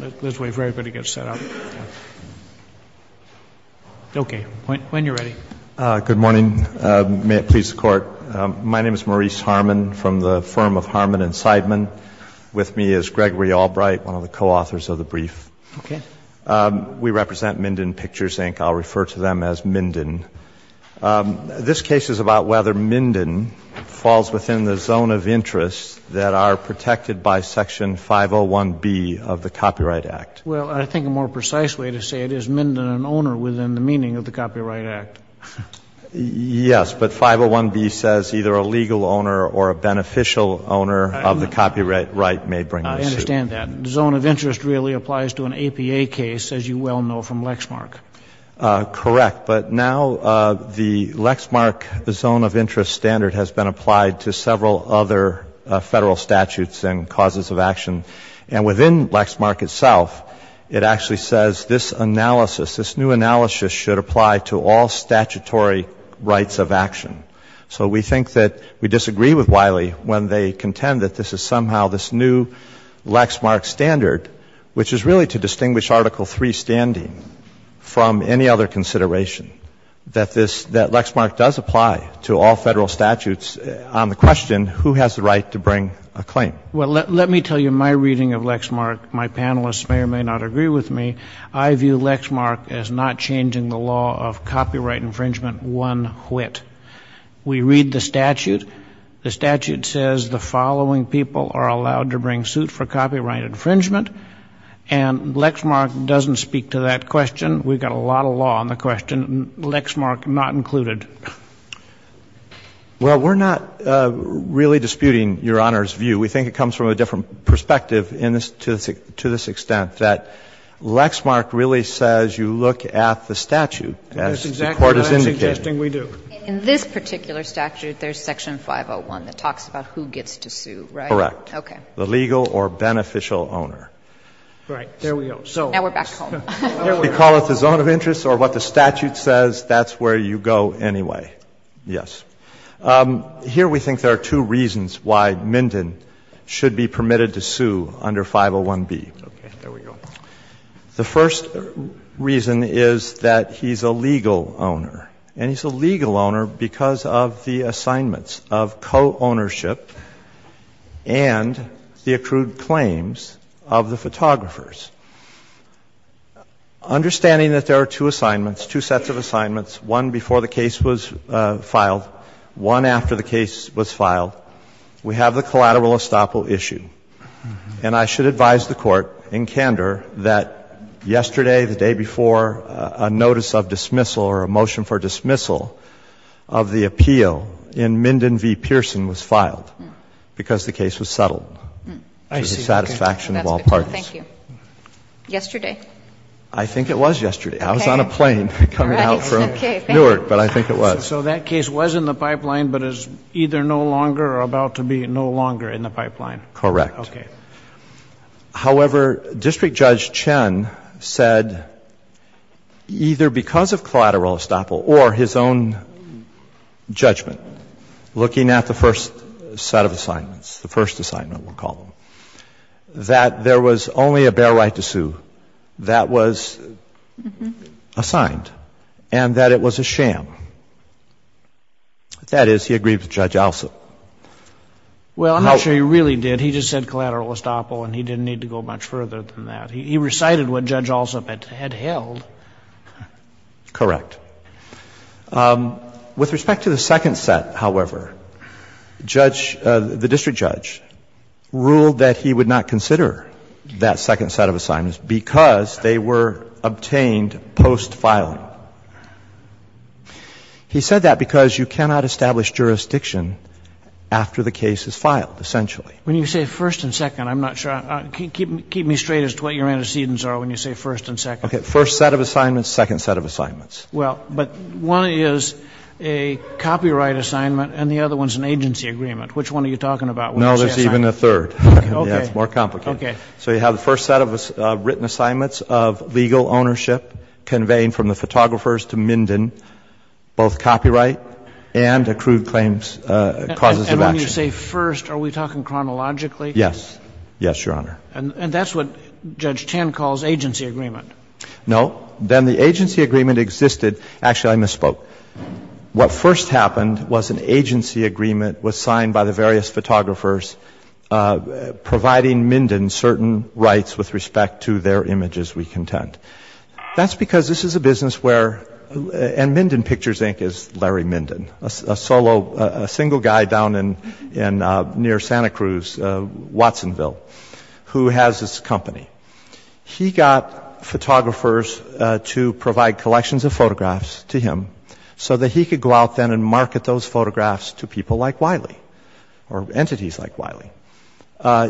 Let's wait for everybody to get set up. Okay, when you're ready. Good morning. May it please the Court. My name is Maurice Harmon from the firm of Harmon & Seidman. With me is Gregory Albright, one of the co-authors of the brief. Okay. We represent Minden Pictures, Inc. I'll refer to them as Minden. This case is about whether Minden falls within the zone of interest that are protected by Section 501B of the Copyright Act. Well, I think a more precise way to say it is Minden an owner within the meaning of the Copyright Act. Yes, but 501B says either a legal owner or a beneficial owner of the copyright may bring the suit. I understand that. The zone of interest really applies to an APA case, as you well know from Lexmark. Correct, but now the Lexmark zone of interest standard has been applied to several other Federal statutes and causes of action. And within Lexmark itself, it actually says this analysis, this new analysis should apply to all statutory rights of action. So we think that we disagree with Wiley when they contend that this is somehow this new Lexmark standard, which is really to distinguish Article III standing from any other consideration, that this, that Lexmark does apply to all Federal statutes. On the question, who has the right to bring a claim? Well, let me tell you my reading of Lexmark. My panelists may or may not agree with me. I view Lexmark as not changing the law of copyright infringement one whit. We read the statute. The statute says the following people are allowed to bring suit for copyright infringement. And Lexmark doesn't speak to that question. We've got a lot of law on the question, Lexmark not included. Well, we're not really disputing Your Honor's view. We think it comes from a different perspective to this extent, that Lexmark really says you look at the statute, as the Court has indicated. In this particular statute, there's section 501 that talks about who gets to sue, right? Correct. Okay. The legal or beneficial owner. Right. There we go. Now we're back home. We call it the zone of interest or what the statute says, that's where you go anyway. Yes. Here we think there are two reasons why Minden should be permitted to sue under 501B. Okay. There we go. The first reason is that he's a legal owner. And he's a legal owner because of the assignments of co-ownership and the accrued claims of the photographers. Understanding that there are two assignments, two sets of assignments, one before the case was filed, one after the case was filed, we have the collateral estoppel issue. And I should advise the Court in candor that yesterday, the day before, a notice of dismissal or a motion for dismissal of the appeal in Minden v. Pearson was filed because the case was settled to the satisfaction of all parties. Thank you. Yesterday? I think it was yesterday. I was on a plane coming out from Newark, but I think it was. So that case was in the pipeline but is either no longer or about to be no longer in the pipeline. Correct. Okay. However, District Judge Chen said either because of collateral estoppel or his own judgment, looking at the first set of assignments, the first assignment, we'll call them, that there was only a bare right to sue that was assigned and that it was a sham. That is, he agreed with Judge Alsop. Well, I'm not sure he really did. He just said collateral estoppel and he didn't need to go much further than that. He recited what Judge Alsop had held. Correct. With respect to the second set, however, Judge — the District Judge ruled that he would not consider that second set of assignments because they were obtained post-filing. He said that because you cannot establish jurisdiction after the case is filed, essentially. When you say first and second, I'm not sure. Keep me straight as to what your antecedents are when you say first and second. Okay. First set of assignments, second set of assignments. Well, but one is a copyright assignment and the other one is an agency agreement. Which one are you talking about? No, there's even a third. Okay. It's more complicated. Okay. So you have the first set of written assignments of legal ownership, conveying from the photographers to Minden, both copyright and accrued claims, causes of action. And when you say first, are we talking chronologically? Yes. Yes, Your Honor. And that's what Judge Tan calls agency agreement. No. Then the agency agreement existed — actually, I misspoke. What first happened was an agency agreement was signed by the various photographers providing Minden certain rights with respect to their images we contend. That's because this is a business where — and Minden Pictures, Inc., is Larry Minden, a single guy down near Santa Cruz, Watsonville, who has this company. He got photographers to provide collections of photographs to him so that he could go out then and market those photographs to people like Wiley, or entities like Wiley.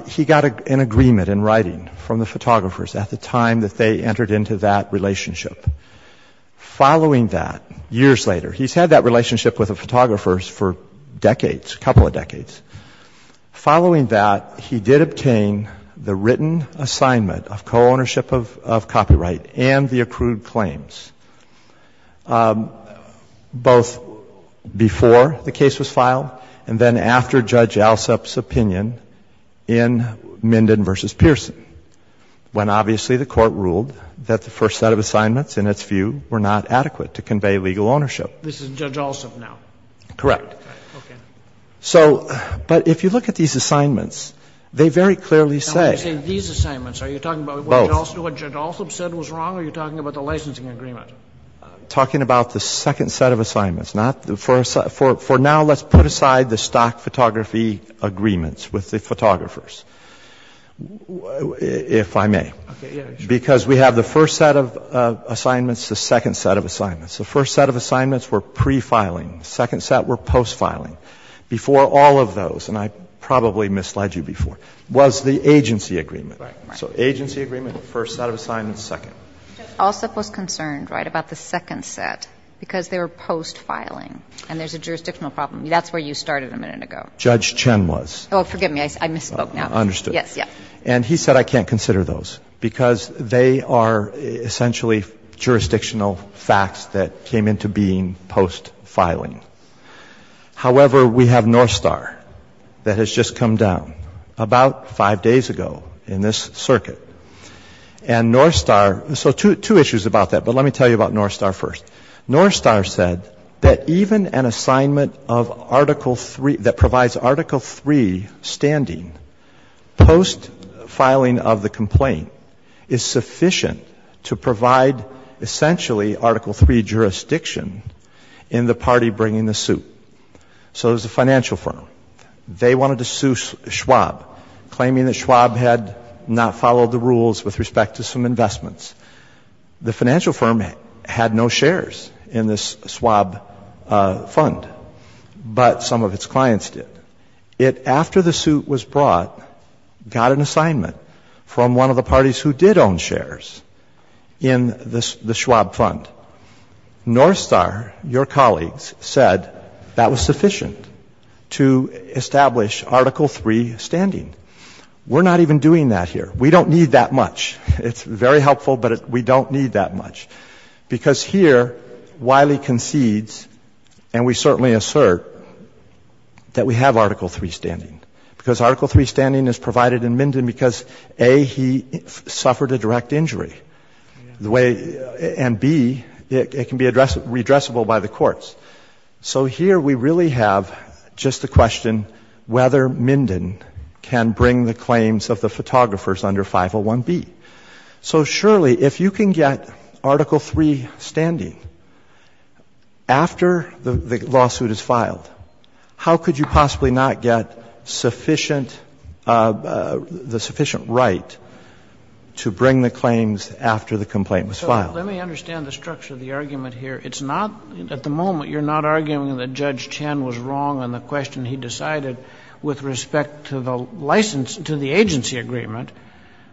He got an agreement in writing from the photographers at the time that they entered into that relationship. Following that, years later — he's had that relationship with the photographers for decades, a couple of decades — following that, he did obtain the written assignment of co-ownership of copyright and the accrued claims, both before the case was filed and then after Judge Alsop's opinion in Minden v. Pearson, when obviously the Court ruled that the first set of assignments, in its view, were not adequate to convey legal ownership. This is Judge Alsop now? Correct. Okay. So — but if you look at these assignments, they very clearly say — Now, when you say these assignments, are you talking about — Both. What Judge Alsop said was wrong, or are you talking about the licensing agreement? I'm talking about the second set of assignments, not the first. For now, let's put aside the stock photography agreements with the photographers, if I may. Okay. Because we have the first set of assignments, the second set of assignments. The first set of assignments were pre-filing. The second set were post-filing. Before all of those, and I probably misled you before, was the agency agreement. Right. So agency agreement, first set of assignments, second. Judge Alsop was concerned, right, about the second set because they were post-filing and there's a jurisdictional problem. That's where you started a minute ago. Judge Chen was. Oh, forgive me. I misspoke now. Understood. Yes, yes. And he said I can't consider those because they are essentially jurisdictional facts that came into being post-filing. However, we have North Star that has just come down about five days ago in this circuit. And North Star, so two issues about that, but let me tell you about North Star first. North Star said that even an assignment of Article 3, that provides Article 3 standing post-filing of the complaint is sufficient to provide essentially Article 3 jurisdiction in the party bringing the suit. So there's a financial firm. They wanted to sue Schwab, claiming that Schwab had not followed the rules with respect to some investments. The financial firm had no shares in this Schwab fund, but some of its clients did. It, after the suit was brought, got an assignment from one of the parties who did not own shares in the Schwab fund. North Star, your colleagues, said that was sufficient to establish Article 3 standing. We're not even doing that here. We don't need that much. It's very helpful, but we don't need that much. Because here Wiley concedes, and we certainly assert, that we have Article 3 standing, because Article 3 standing is provided in Minden because, A, he suffered a direct injury, and, B, it can be redressable by the courts. So here we really have just the question whether Minden can bring the claims of the photographers under 501B. So, surely, if you can get Article 3 standing after the lawsuit is filed, how could you possibly not get sufficient, the sufficient right to bring the claims of the photographers under 501B to bring the claims after the complaint was filed? So let me understand the structure of the argument here. It's not, at the moment, you're not arguing that Judge Chen was wrong on the question he decided with respect to the license, to the agency agreement.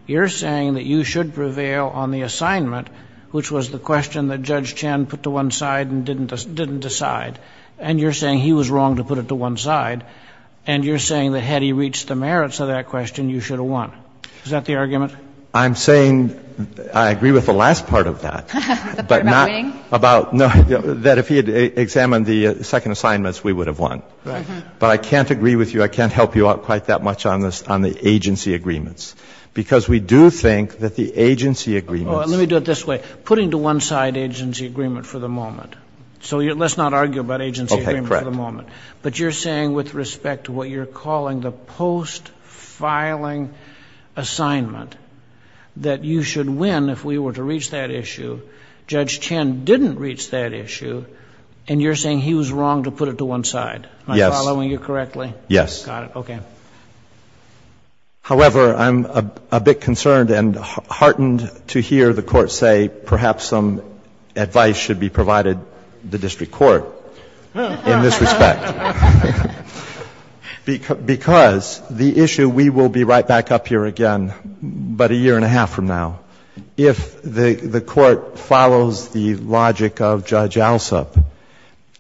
You're saying that you should prevail on the assignment, which was the question that Judge Chen put to one side and didn't decide, and you're saying he was wrong to put it to one side. And you're saying that had he reached the merits of that question, you should have won. Is that the argument? I'm saying I agree with the last part of that, but not about, no, that if he had examined the second assignments, we would have won. But I can't agree with you, I can't help you out quite that much on this, on the agency agreements, because we do think that the agency agreements. Let me do it this way. Putting to one side agency agreement for the moment, so let's not argue about agency agreement for the moment. Okay, correct. But you're saying with respect to what you're calling the post-filing assignment that you should win if we were to reach that issue, Judge Chen didn't reach that issue, and you're saying he was wrong to put it to one side. Yes. Am I following you correctly? Yes. Got it. Okay. However, I'm a bit concerned and heartened to hear the Court say perhaps some advice should be provided the district court in this respect. Because the issue, we will be right back up here again, but a year and a half from now, if the Court follows the logic of Judge Alsop,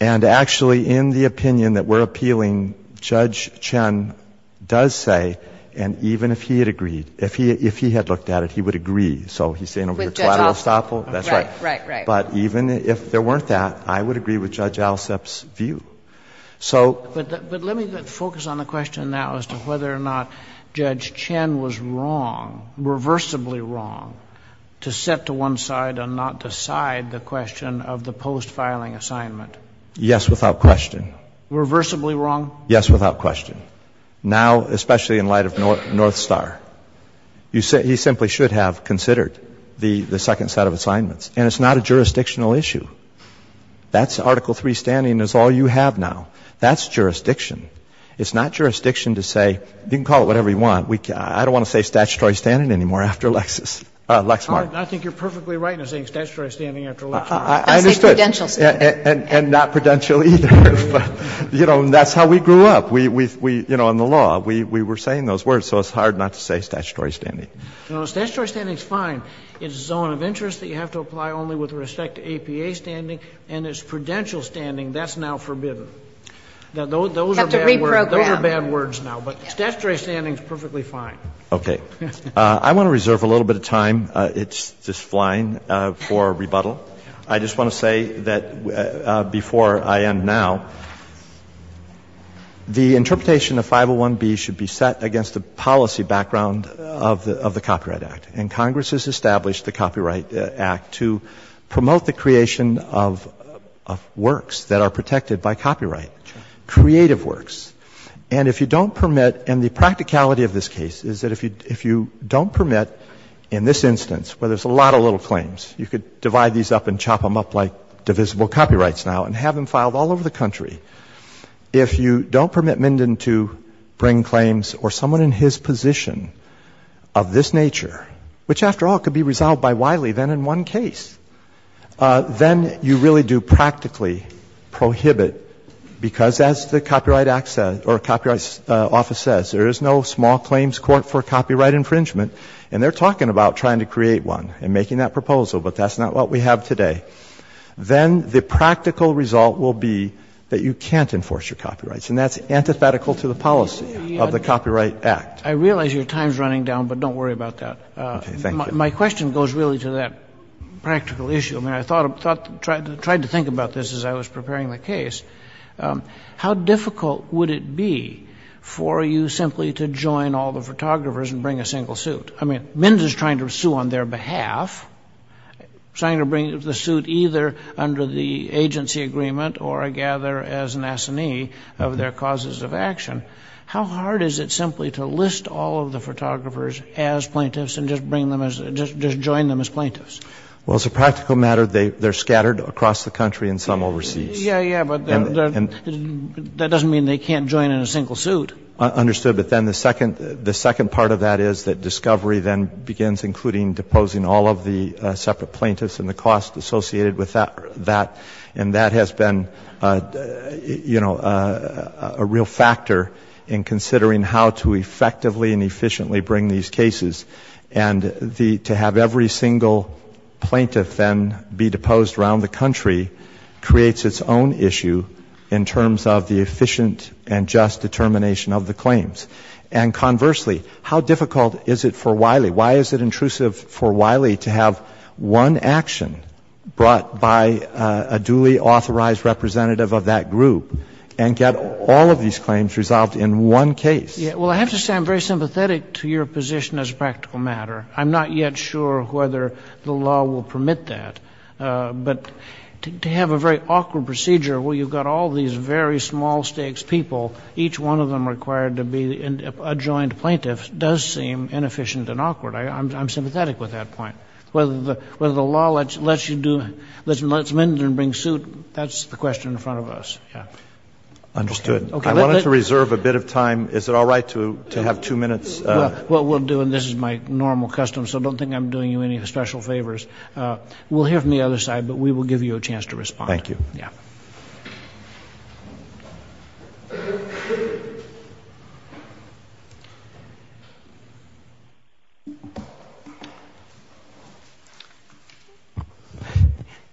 and actually in the opinion that we're appealing, Judge Chen does say, and even if he had agreed, if he had looked at it, he would agree. So he's saying over the collateral estoppel? That's right. Right, right. But even if there weren't that, I would agree with Judge Alsop's view. But let me focus on the question now as to whether or not Judge Chen was wrong, reversibly wrong, to set to one side and not decide the question of the post-filing assignment. Yes, without question. Reversibly wrong? Yes, without question. Now, especially in light of North Star, he simply should have considered the second set of assignments, and it's not a jurisdictional issue. That's Article III standing is all you have now. That's jurisdiction. It's not jurisdiction to say, you can call it whatever you want. I don't want to say statutory standing anymore after Lexmark. I think you're perfectly right in saying statutory standing after Lexmark. I'll say prudential standing. And not prudential either. You know, that's how we grew up. We, you know, in the law, we were saying those words. So it's hard not to say statutory standing. No, statutory standing is fine. It's a zone of interest that you have to apply only with respect to APA standing, and it's prudential standing. That's now forbidden. Those are bad words. Those are bad words now. But statutory standing is perfectly fine. Okay. I want to reserve a little bit of time. It's just flying for rebuttal. I just want to say that before I end now, the interpretation of 501B should be set against the policy background of the Copyright Act. And Congress has established the Copyright Act to promote the creation of works that are protected by copyright, creative works. And if you don't permit, and the practicality of this case is that if you don't permit in this instance, where there's a lot of little claims, you could divide these up and chop them up like divisible copyrights now and have them filed all over the country. If you don't permit Minden to bring claims or someone in his position of this nature which, after all, could be resolved by Wiley then in one case, then you really do practically prohibit because, as the Copyright Office says, there is no small claims court for copyright infringement. And they're talking about trying to create one and making that proposal, but that's not what we have today. Then the practical result will be that you can't enforce your copyrights, and that's antithetical to the policy of the Copyright Act. I realize your time is running down, but don't worry about that. Okay. Thank you. My question goes really to that practical issue. I mean, I tried to think about this as I was preparing the case. How difficult would it be for you simply to join all the photographers and bring a single suit? I mean, Minden is trying to sue on their behalf, trying to bring the suit either under the agency agreement or, I gather, as an assignee of their causes of action. How hard is it simply to list all of the photographers as plaintiffs and just bring them as, just join them as plaintiffs? Well, as a practical matter, they're scattered across the country and some overseas. Yeah, yeah, but that doesn't mean they can't join in a single suit. Understood. But then the second part of that is that discovery then begins including deposing all of the separate plaintiffs and the cost associated with that, and that has been, you know, a real factor in considering how to effectively and efficiently bring these cases. And to have every single plaintiff then be deposed around the country creates its own issue in terms of the efficient and just determination of the claims. And conversely, how difficult is it for Wiley, why is it intrusive for Wiley to have one action brought by a duly authorized representative of that group and get all of these claims resolved in one case? Yeah. Well, I have to say I'm very sympathetic to your position as a practical matter. I'm not yet sure whether the law will permit that. But to have a very awkward procedure where you've got all these very small stakes people, each one of them required to be adjoined plaintiffs, does seem inefficient and awkward. I'm sympathetic with that point. Whether the law lets you do, lets Mindern bring suit, that's the question in front of us. Yeah. Understood. I wanted to reserve a bit of time. Is it all right to have two minutes? Well, we'll do, and this is my normal custom, so don't think I'm doing you any special favors. We'll hear from the other side, but we will give you a chance to respond. Thank you. Yeah.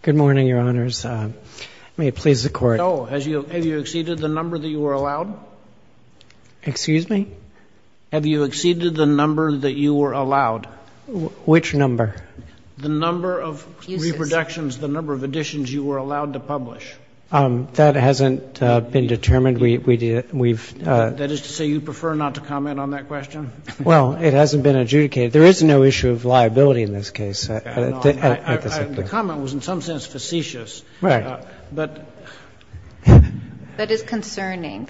Good morning, Your Honors. May it please the Court. No. Have you exceeded the number that you were allowed? Excuse me? Have you exceeded the number that you were allowed? Which number? The number of reproductions, the number of editions you were allowed to publish. That hasn't been determined. That is to say you prefer not to comment on that question? Well, it hasn't been adjudicated. There is no issue of liability in this case. The comment was in some sense facetious. Right. That is concerning.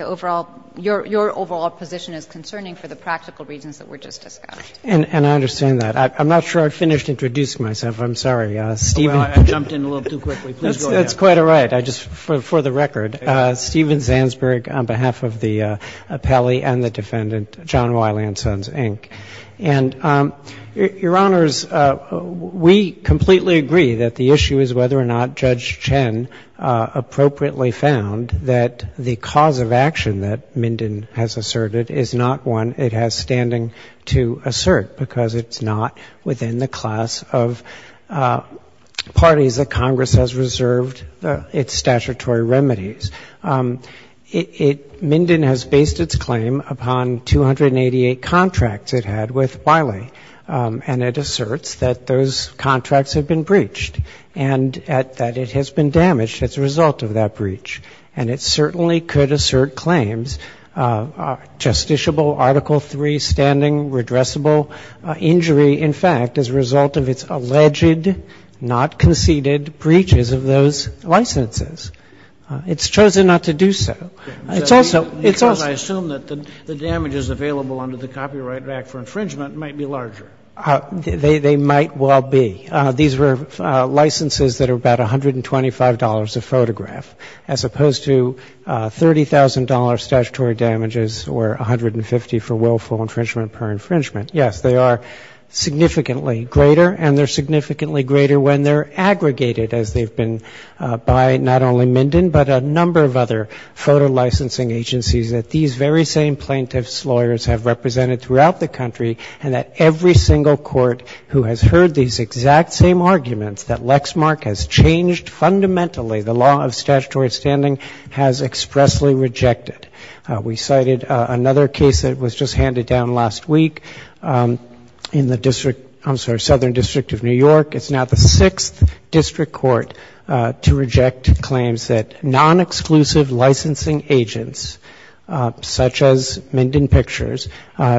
Your overall position is concerning for the practical reasons that were just discussed. And I understand that. I'm not sure I finished introducing myself. I'm sorry. Well, I jumped in a little too quickly. Please go ahead. That's quite all right. Just for the record, Steven Zansberg on behalf of the appellee and the defendant, John Wiley and Sons, Inc. And, Your Honors, we completely agree that the issue is whether or not Judge Chen appropriately found that the cause of action that Minden has asserted is not one it has standing to assert because it's not within the class of parties that Congress has reserved its statutory remedies. Minden has based its claim upon 288 contracts. It had with Wiley. And it asserts that those contracts have been breached and that it has been damaged as a result of that breach. And it certainly could assert claims, justiciable Article III standing, redressable injury, in fact, as a result of its alleged not conceded breaches of those licenses. It's chosen not to do so. It's also Because I assume that the damages available under the Copyright Act for Infringement might be larger. They might well be. These were licenses that are about $125 a photograph, as opposed to $30,000 statutory damages or $150 for willful infringement per infringement. Yes, they are significantly greater, and they're significantly greater when they're that these very same plaintiffs' lawyers have represented throughout the country and that every single court who has heard these exact same arguments that Lexmark has changed fundamentally the law of statutory standing has expressly rejected. We cited another case that was just handed down last week in the district, I'm sorry, Southern District of New York. It's now the sixth district court to reject claims that nonexclusive licensing agents, such as Minden Pictures,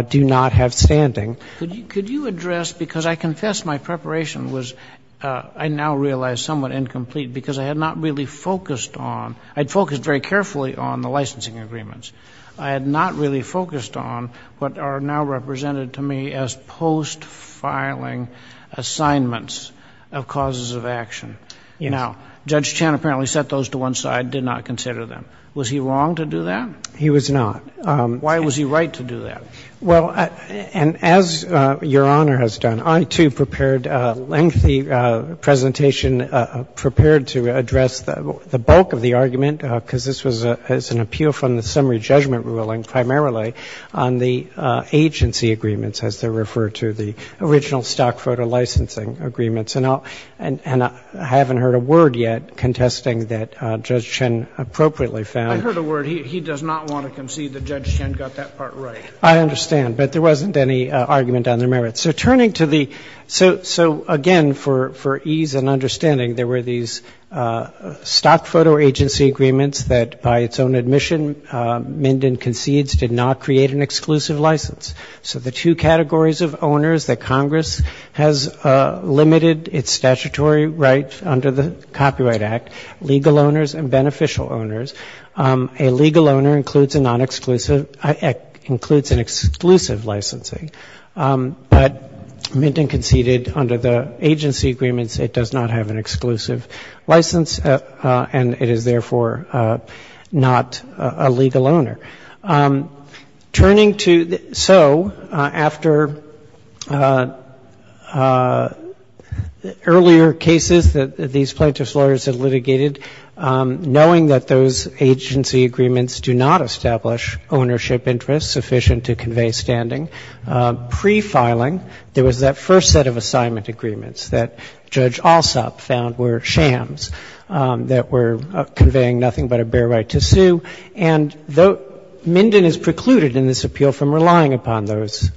do not have standing. Could you address, because I confess my preparation was, I now realize, somewhat incomplete because I had not really focused on, I had focused very carefully on the licensing agreements. I had not really focused on what are now represented to me as post-filing assignments of causes of action. Now, Judge Chan apparently set those to one side, did not consider them. Was he wrong to do that? He was not. Why was he right to do that? Well, and as Your Honor has done, I, too, prepared a lengthy presentation prepared to address the bulk of the argument, because this was an appeal from the summary judgment ruling primarily on the agency agreements, as they refer to the original stock photo licensing agreements. And I haven't heard a word yet contesting that Judge Chan appropriately found. I heard a word. He does not want to concede that Judge Chan got that part right. I understand. But there wasn't any argument on the merits. So turning to the, so again, for ease and understanding, there were these stock photo agency agreements that, by its own admission, Minden Concedes did not create an exclusive license. So the two categories of owners that Congress has limited its statutory rights under the Copyright Act, legal owners and beneficial owners, a legal owner includes a non-exclusive, includes an exclusive licensing. But Minden Conceded, under the agency agreements, it does not have an exclusive license, and it is therefore not a legal owner. Turning to, so after earlier cases that these plaintiff's lawyers have litigated, knowing that those agency agreements do not establish ownership interests sufficient to convey standing, prefiling, there was that first set of assignment agreements that Judge Alsop found were shams, that were conveying nothing but a bare right to sue. And Minden is precluded in this appeal from relying upon those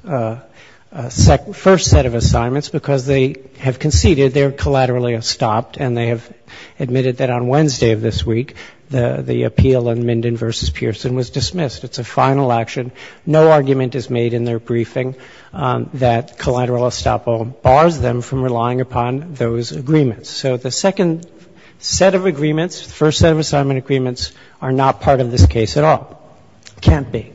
first set of assignments because they have conceded they are collaterally estopped, and they have admitted that on Wednesday of this week the appeal in Minden v. Pearson was dismissed. It's a final action. No argument is made in their briefing that collateral estoppel bars them from relying upon those agreements. So the second set of agreements, the first set of assignment agreements are not part of this case at all. Can't be.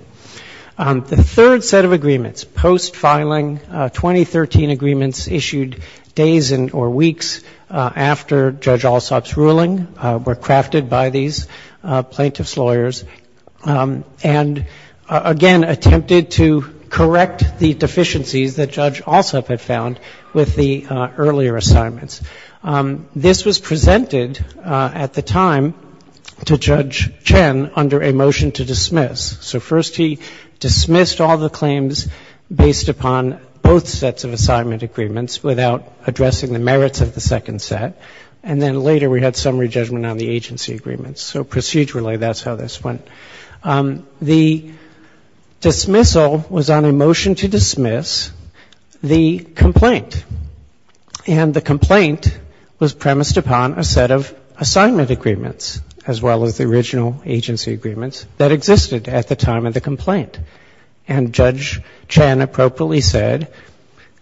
The third set of agreements, post-filing 2013 agreements issued days or weeks after Judge Alsop's ruling were crafted by these plaintiff's lawyers, and again attempted to correct the deficiencies that Judge Alsop had found with the earlier assignments. This was presented at the time to Judge Chen under a motion to dismiss. So first he dismissed all the claims based upon both sets of assignment agreements without addressing the merits of the second set. And then later we had summary judgment on the agency agreements. So procedurally that's how this went. The dismissal was on a motion to dismiss the complaint. And the complaint was premised upon a set of assignment agreements as well as the original agency agreements that existed at the time of the complaint. And Judge Chen appropriately said,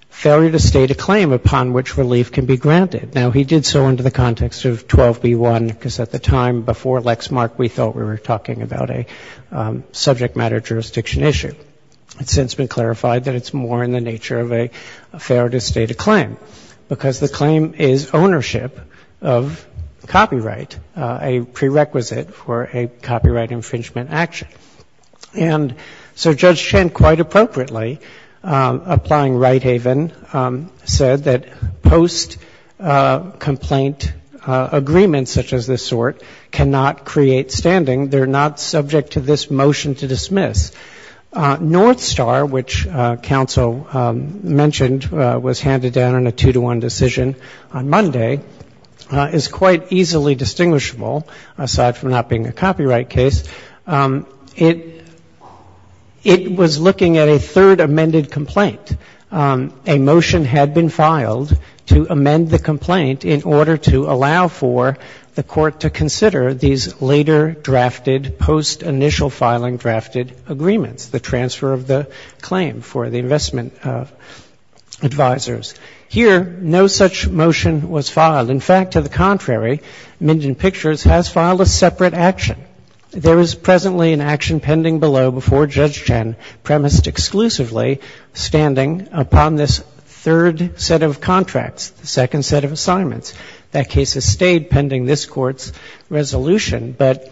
failure to state a claim upon which relief can be granted. Now, he did so under the context of 12b1, because at the time before Lexmark we thought we were talking about a subject matter jurisdiction issue. It's since been clarified that it's more in the nature of a failure to state a claim, because the claim is ownership of copyright, a prerequisite for a copyright infringement action. And so Judge Chen quite appropriately, applying right haven, said that post-complaint agreements such as this sort cannot create standing. They're not subject to this motion to dismiss. North Star, which counsel mentioned, was handed down in a two-to-one decision on Monday, is quite easily distinguishable, aside from not being a copyright case. It was looking at a third amended complaint. In fact, a motion had been filed to amend the complaint in order to allow for the Court to consider these later drafted, post-initial filing drafted agreements, the transfer of the claim for the investment advisors. Here, no such motion was filed. In fact, to the contrary, Minden Pictures has filed a separate action. There is presently an action pending below before Judge Chen, premised exclusively standing upon this third set of contracts, the second set of assignments. That case has stayed pending this Court's resolution. But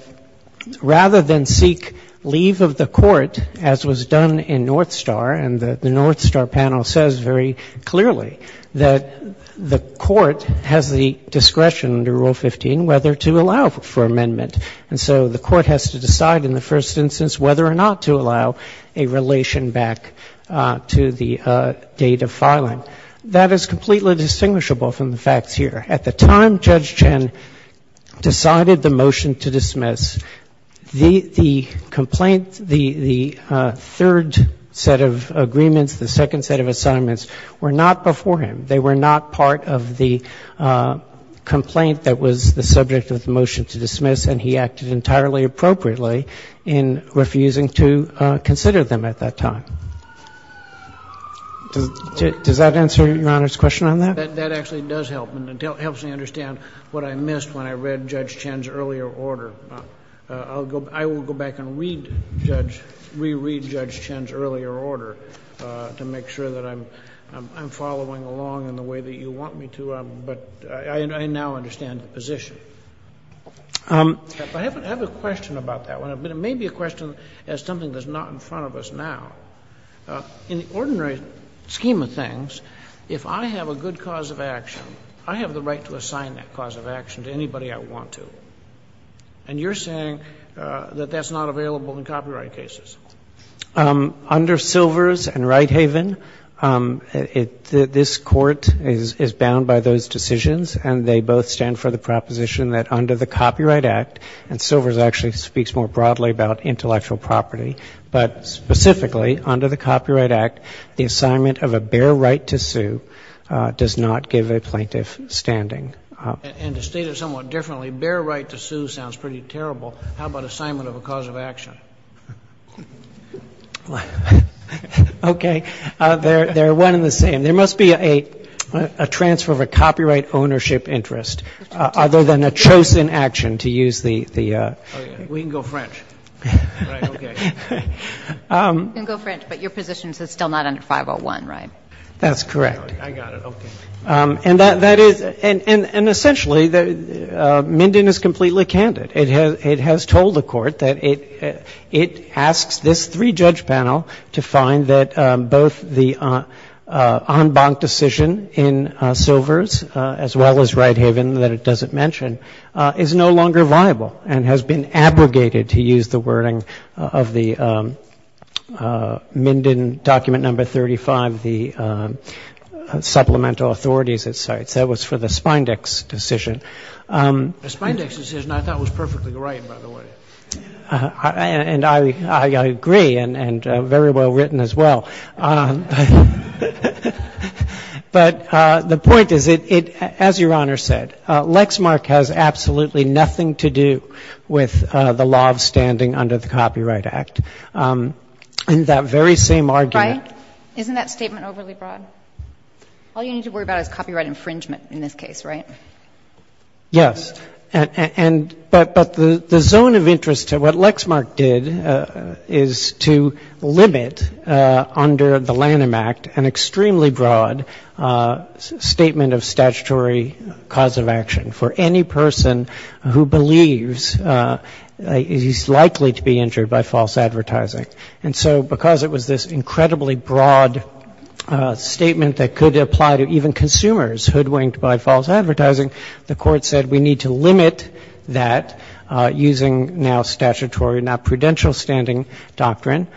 rather than seek leave of the Court, as was done in North Star, and the North Star panel says very clearly that the Court has the discretion under Rule 15 whether to allow for amendment. And so the Court has to decide in the first instance whether or not to allow a relation back to the date of filing. That is completely distinguishable from the facts here. At the time Judge Chen decided the motion to dismiss, the complaint, the third set of agreements, the second set of assignments were not before him. They were not part of the complaint that was the subject of the motion to dismiss, and he acted entirely appropriately in refusing to consider them at that time. Does that answer Your Honor's question on that? That actually does help, and it helps me understand what I missed when I read Judge Chen's earlier order. I will go back and read Judge — reread Judge Chen's earlier order to make sure that I'm following along in the way that you want me to, but I now understand the position. I have a question about that one. It may be a question as something that's not in front of us now. In the ordinary scheme of things, if I have a good cause of action, I have the right to assign that cause of action to anybody I want to. And you're saying that that's not available in copyright cases. Under Silvers and Righthaven, this Court is bound by those decisions, and they both stand for the proposition that under the Copyright Act, and Silvers actually speaks more broadly about intellectual property, but specifically under the Copyright Act, the assignment of a bare right to sue does not give a plaintiff standing. And to state it somewhat differently, bare right to sue sounds pretty terrible. How about assignment of a cause of action? Okay. They're one and the same. There must be a transfer of a copyright ownership interest other than a chosen action to use the — Oh, yeah. We can go French. Right. Okay. We can go French, but your position is it's still not under 501, right? That's correct. I got it. Okay. And that is — and essentially, Minden is completely candid. It has told the Court that it asks this three-judge panel to find that both the en banc decision in Silvers, as well as Righthaven, that it doesn't mention, is no longer viable and has been abrogated, to use the wording of the Minden document No. 35, the supplemental authorities it cites. That was for the Spindex decision. The Spindex decision I thought was perfectly right, by the way. And I agree, and very well written as well. But the point is, as Your Honor said, Lexmark has absolutely nothing to do with the law of standing under the Copyright Act. In that very same argument — Brian, isn't that statement overly broad? All you need to worry about is copyright infringement in this case, right? Yes. But the zone of interest to what Lexmark did is to limit, under the Lanham Act, an extremely broad statement of statutory cause of action for any person who believes he's likely to be injured by false advertising. And so because it was this incredibly broad statement that could apply to even false advertising, the Court said we need to limit that, using now statutory not prudential standing doctrine,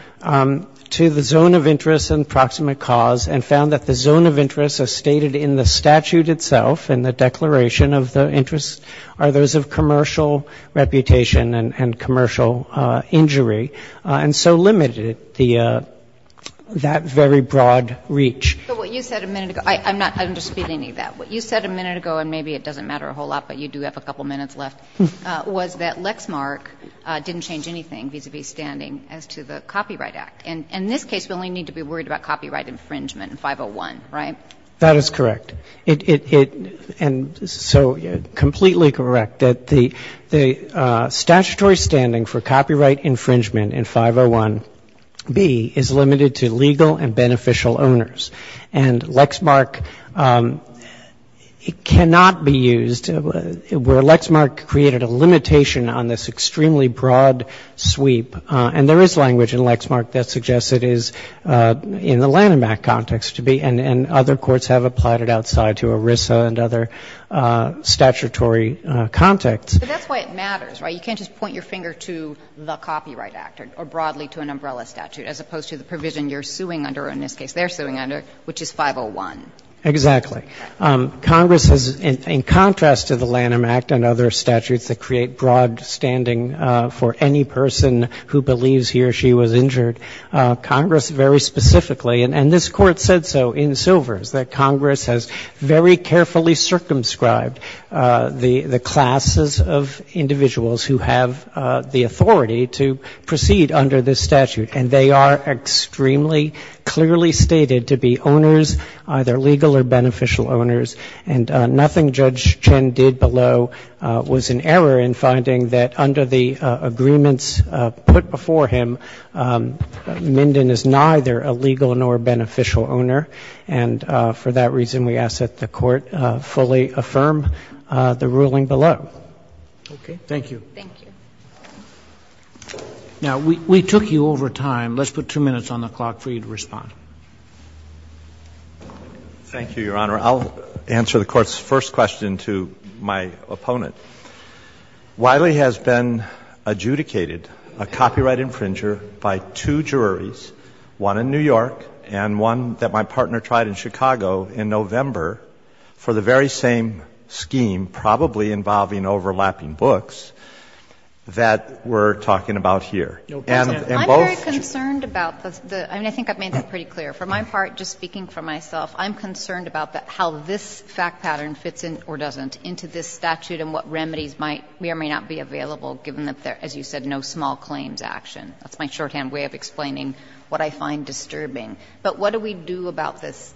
to the zone of interest and the proximate cause, and found that the zone of interest as stated in the statute itself, in the declaration of the interest, are those of commercial reputation and commercial injury, and so limited the — that very broad reach. But what you said a minute ago — I'm not — I don't dispute any of that. What you said a minute ago, and maybe it doesn't matter a whole lot, but you do have a couple minutes left, was that Lexmark didn't change anything vis-à-vis standing as to the Copyright Act. And in this case, we only need to be worried about copyright infringement in 501, right? That is correct. It — and so completely correct that the statutory standing for copyright infringement in 501B is limited to legal and beneficial owners. And Lexmark cannot be used, where Lexmark created a limitation on this extremely broad sweep. And there is language in Lexmark that suggests it is in the Lanham Act context to be, and other courts have applied it outside to ERISA and other statutory contexts. But that's why it matters, right? You can't just point your finger to the Copyright Act or broadly to an umbrella statute, as opposed to the provision you're suing under, or in this case they're using, which is 501. Exactly. Congress has, in contrast to the Lanham Act and other statutes that create broad standing for any person who believes he or she was injured, Congress very specifically, and this Court said so in Silvers, that Congress has very carefully circumscribed the — the classes of individuals who have the authority to proceed under this statute. And they are extremely clearly stated to be owners, either legal or beneficial owners. And nothing Judge Chen did below was an error in finding that under the agreements put before him, Minden is neither a legal nor beneficial owner. And for that reason, we ask that the Court fully affirm the ruling below. Okay. Thank you. Thank you. Now, we took you over time. Let's put two minutes on the clock for you to respond. Thank you, Your Honor. I'll answer the Court's first question to my opponent. Wiley has been adjudicated a copyright infringer by two juries, one in New York and one that my partner tried in Chicago in November, for the very same scheme probably involving overlapping books that we're talking about here. And both — I'm very concerned about the — I mean, I think I've made that pretty clear. For my part, just speaking for myself, I'm concerned about how this fact pattern fits in or doesn't into this statute and what remedies might be or may not be available given that there, as you said, no small claims action. That's my shorthand way of explaining what I find disturbing. But what do we do about this,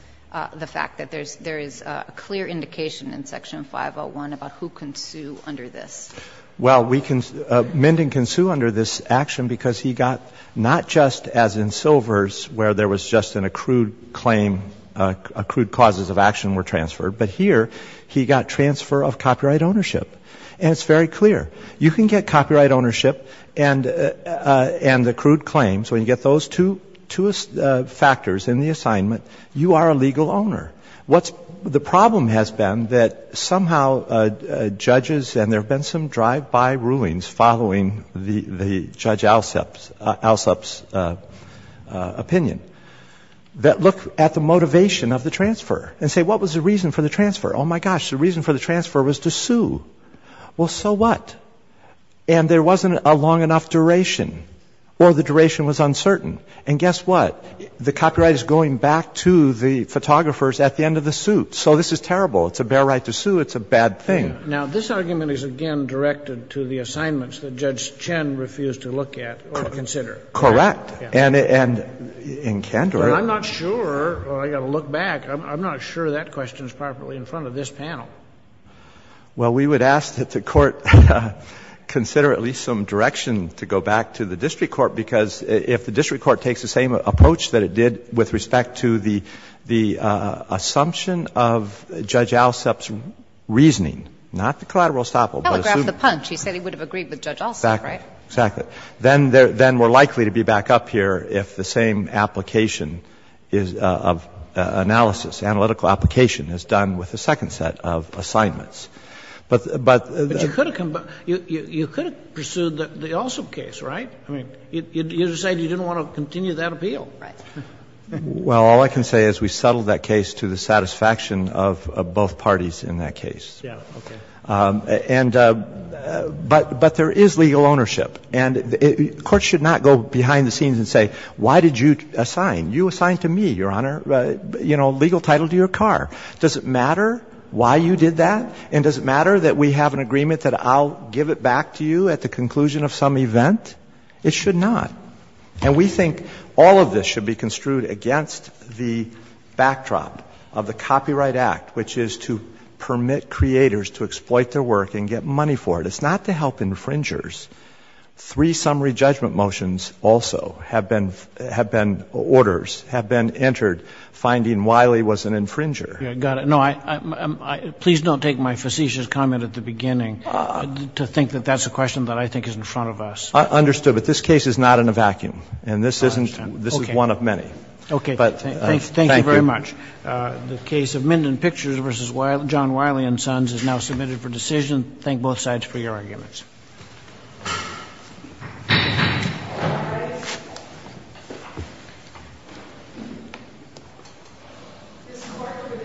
the fact that there is a clear indication in Section 501 about who can sue under this? Well, Menden can sue under this action because he got not just, as in Silvers, where there was just an accrued claim, accrued causes of action were transferred, but here he got transfer of copyright ownership. And it's very clear. You can get copyright ownership and accrued claims, when you get those two factors in the assignment, you are a legal owner. What's — the problem has been that somehow judges, and there have been some drive-by rulings following the Judge Alsup's opinion, that look at the motivation of the transfer and say, what was the reason for the transfer? Oh, my gosh, the reason for the transfer was to sue. Well, so what? And there wasn't a long enough duration, or the duration was uncertain. And guess what? The copyright is going back to the photographers at the end of the suit. So this is terrible. It's a bare right to sue. It's a bad thing. Now, this argument is again directed to the assignments that Judge Chen refused to look at or consider. Correct. And in Kandor — I'm not sure. I've got to look back. I'm not sure that question is properly in front of this panel. Well, we would ask that the Court consider at least some direction to go back to the district court. Because if the district court takes the same approach that it did with respect to the assumption of Judge Alsup's reasoning, not the collateral estoppel, but assuming — Telegraph the punch. He said he would have agreed with Judge Alsup, right? Exactly. But you could have pursued the Alsup case, right? I mean, you decided you didn't want to continue that appeal. Right. Well, all I can say is we settled that case to the satisfaction of both parties in that case. Yeah. Okay. But there is legal ownership. And the Court should not go behind the scenes and say, why did you assign? You assigned to me, Your Honor, you know, legal title to your car. Does it matter why you did that? And does it matter that we have an agreement that I'll give it back to you at the conclusion of some event? It should not. And we think all of this should be construed against the backdrop of the Copyright Act, which is to permit creators to exploit their work and get money for it. It's not to help infringers. Three summary judgment motions also have been — have been — orders have been And we think all of this should be construed against the backdrop of the Copyright Act, which is to permit creators to exploit their work and get money for it. It's not to help infringers. Yeah. Got it. No, I — please don't take my facetious comment at the beginning to think that that's a question that I think is in front of us. I understood. But this case is not in a vacuum. And this isn't — this is one of many. Okay. Okay. Thank you very much. The case of Minden Pictures v. John Wiley & Sons is now submitted for decision. Thank both sides for your arguments. All right. Ms. Clark, for this session, stands adjourned.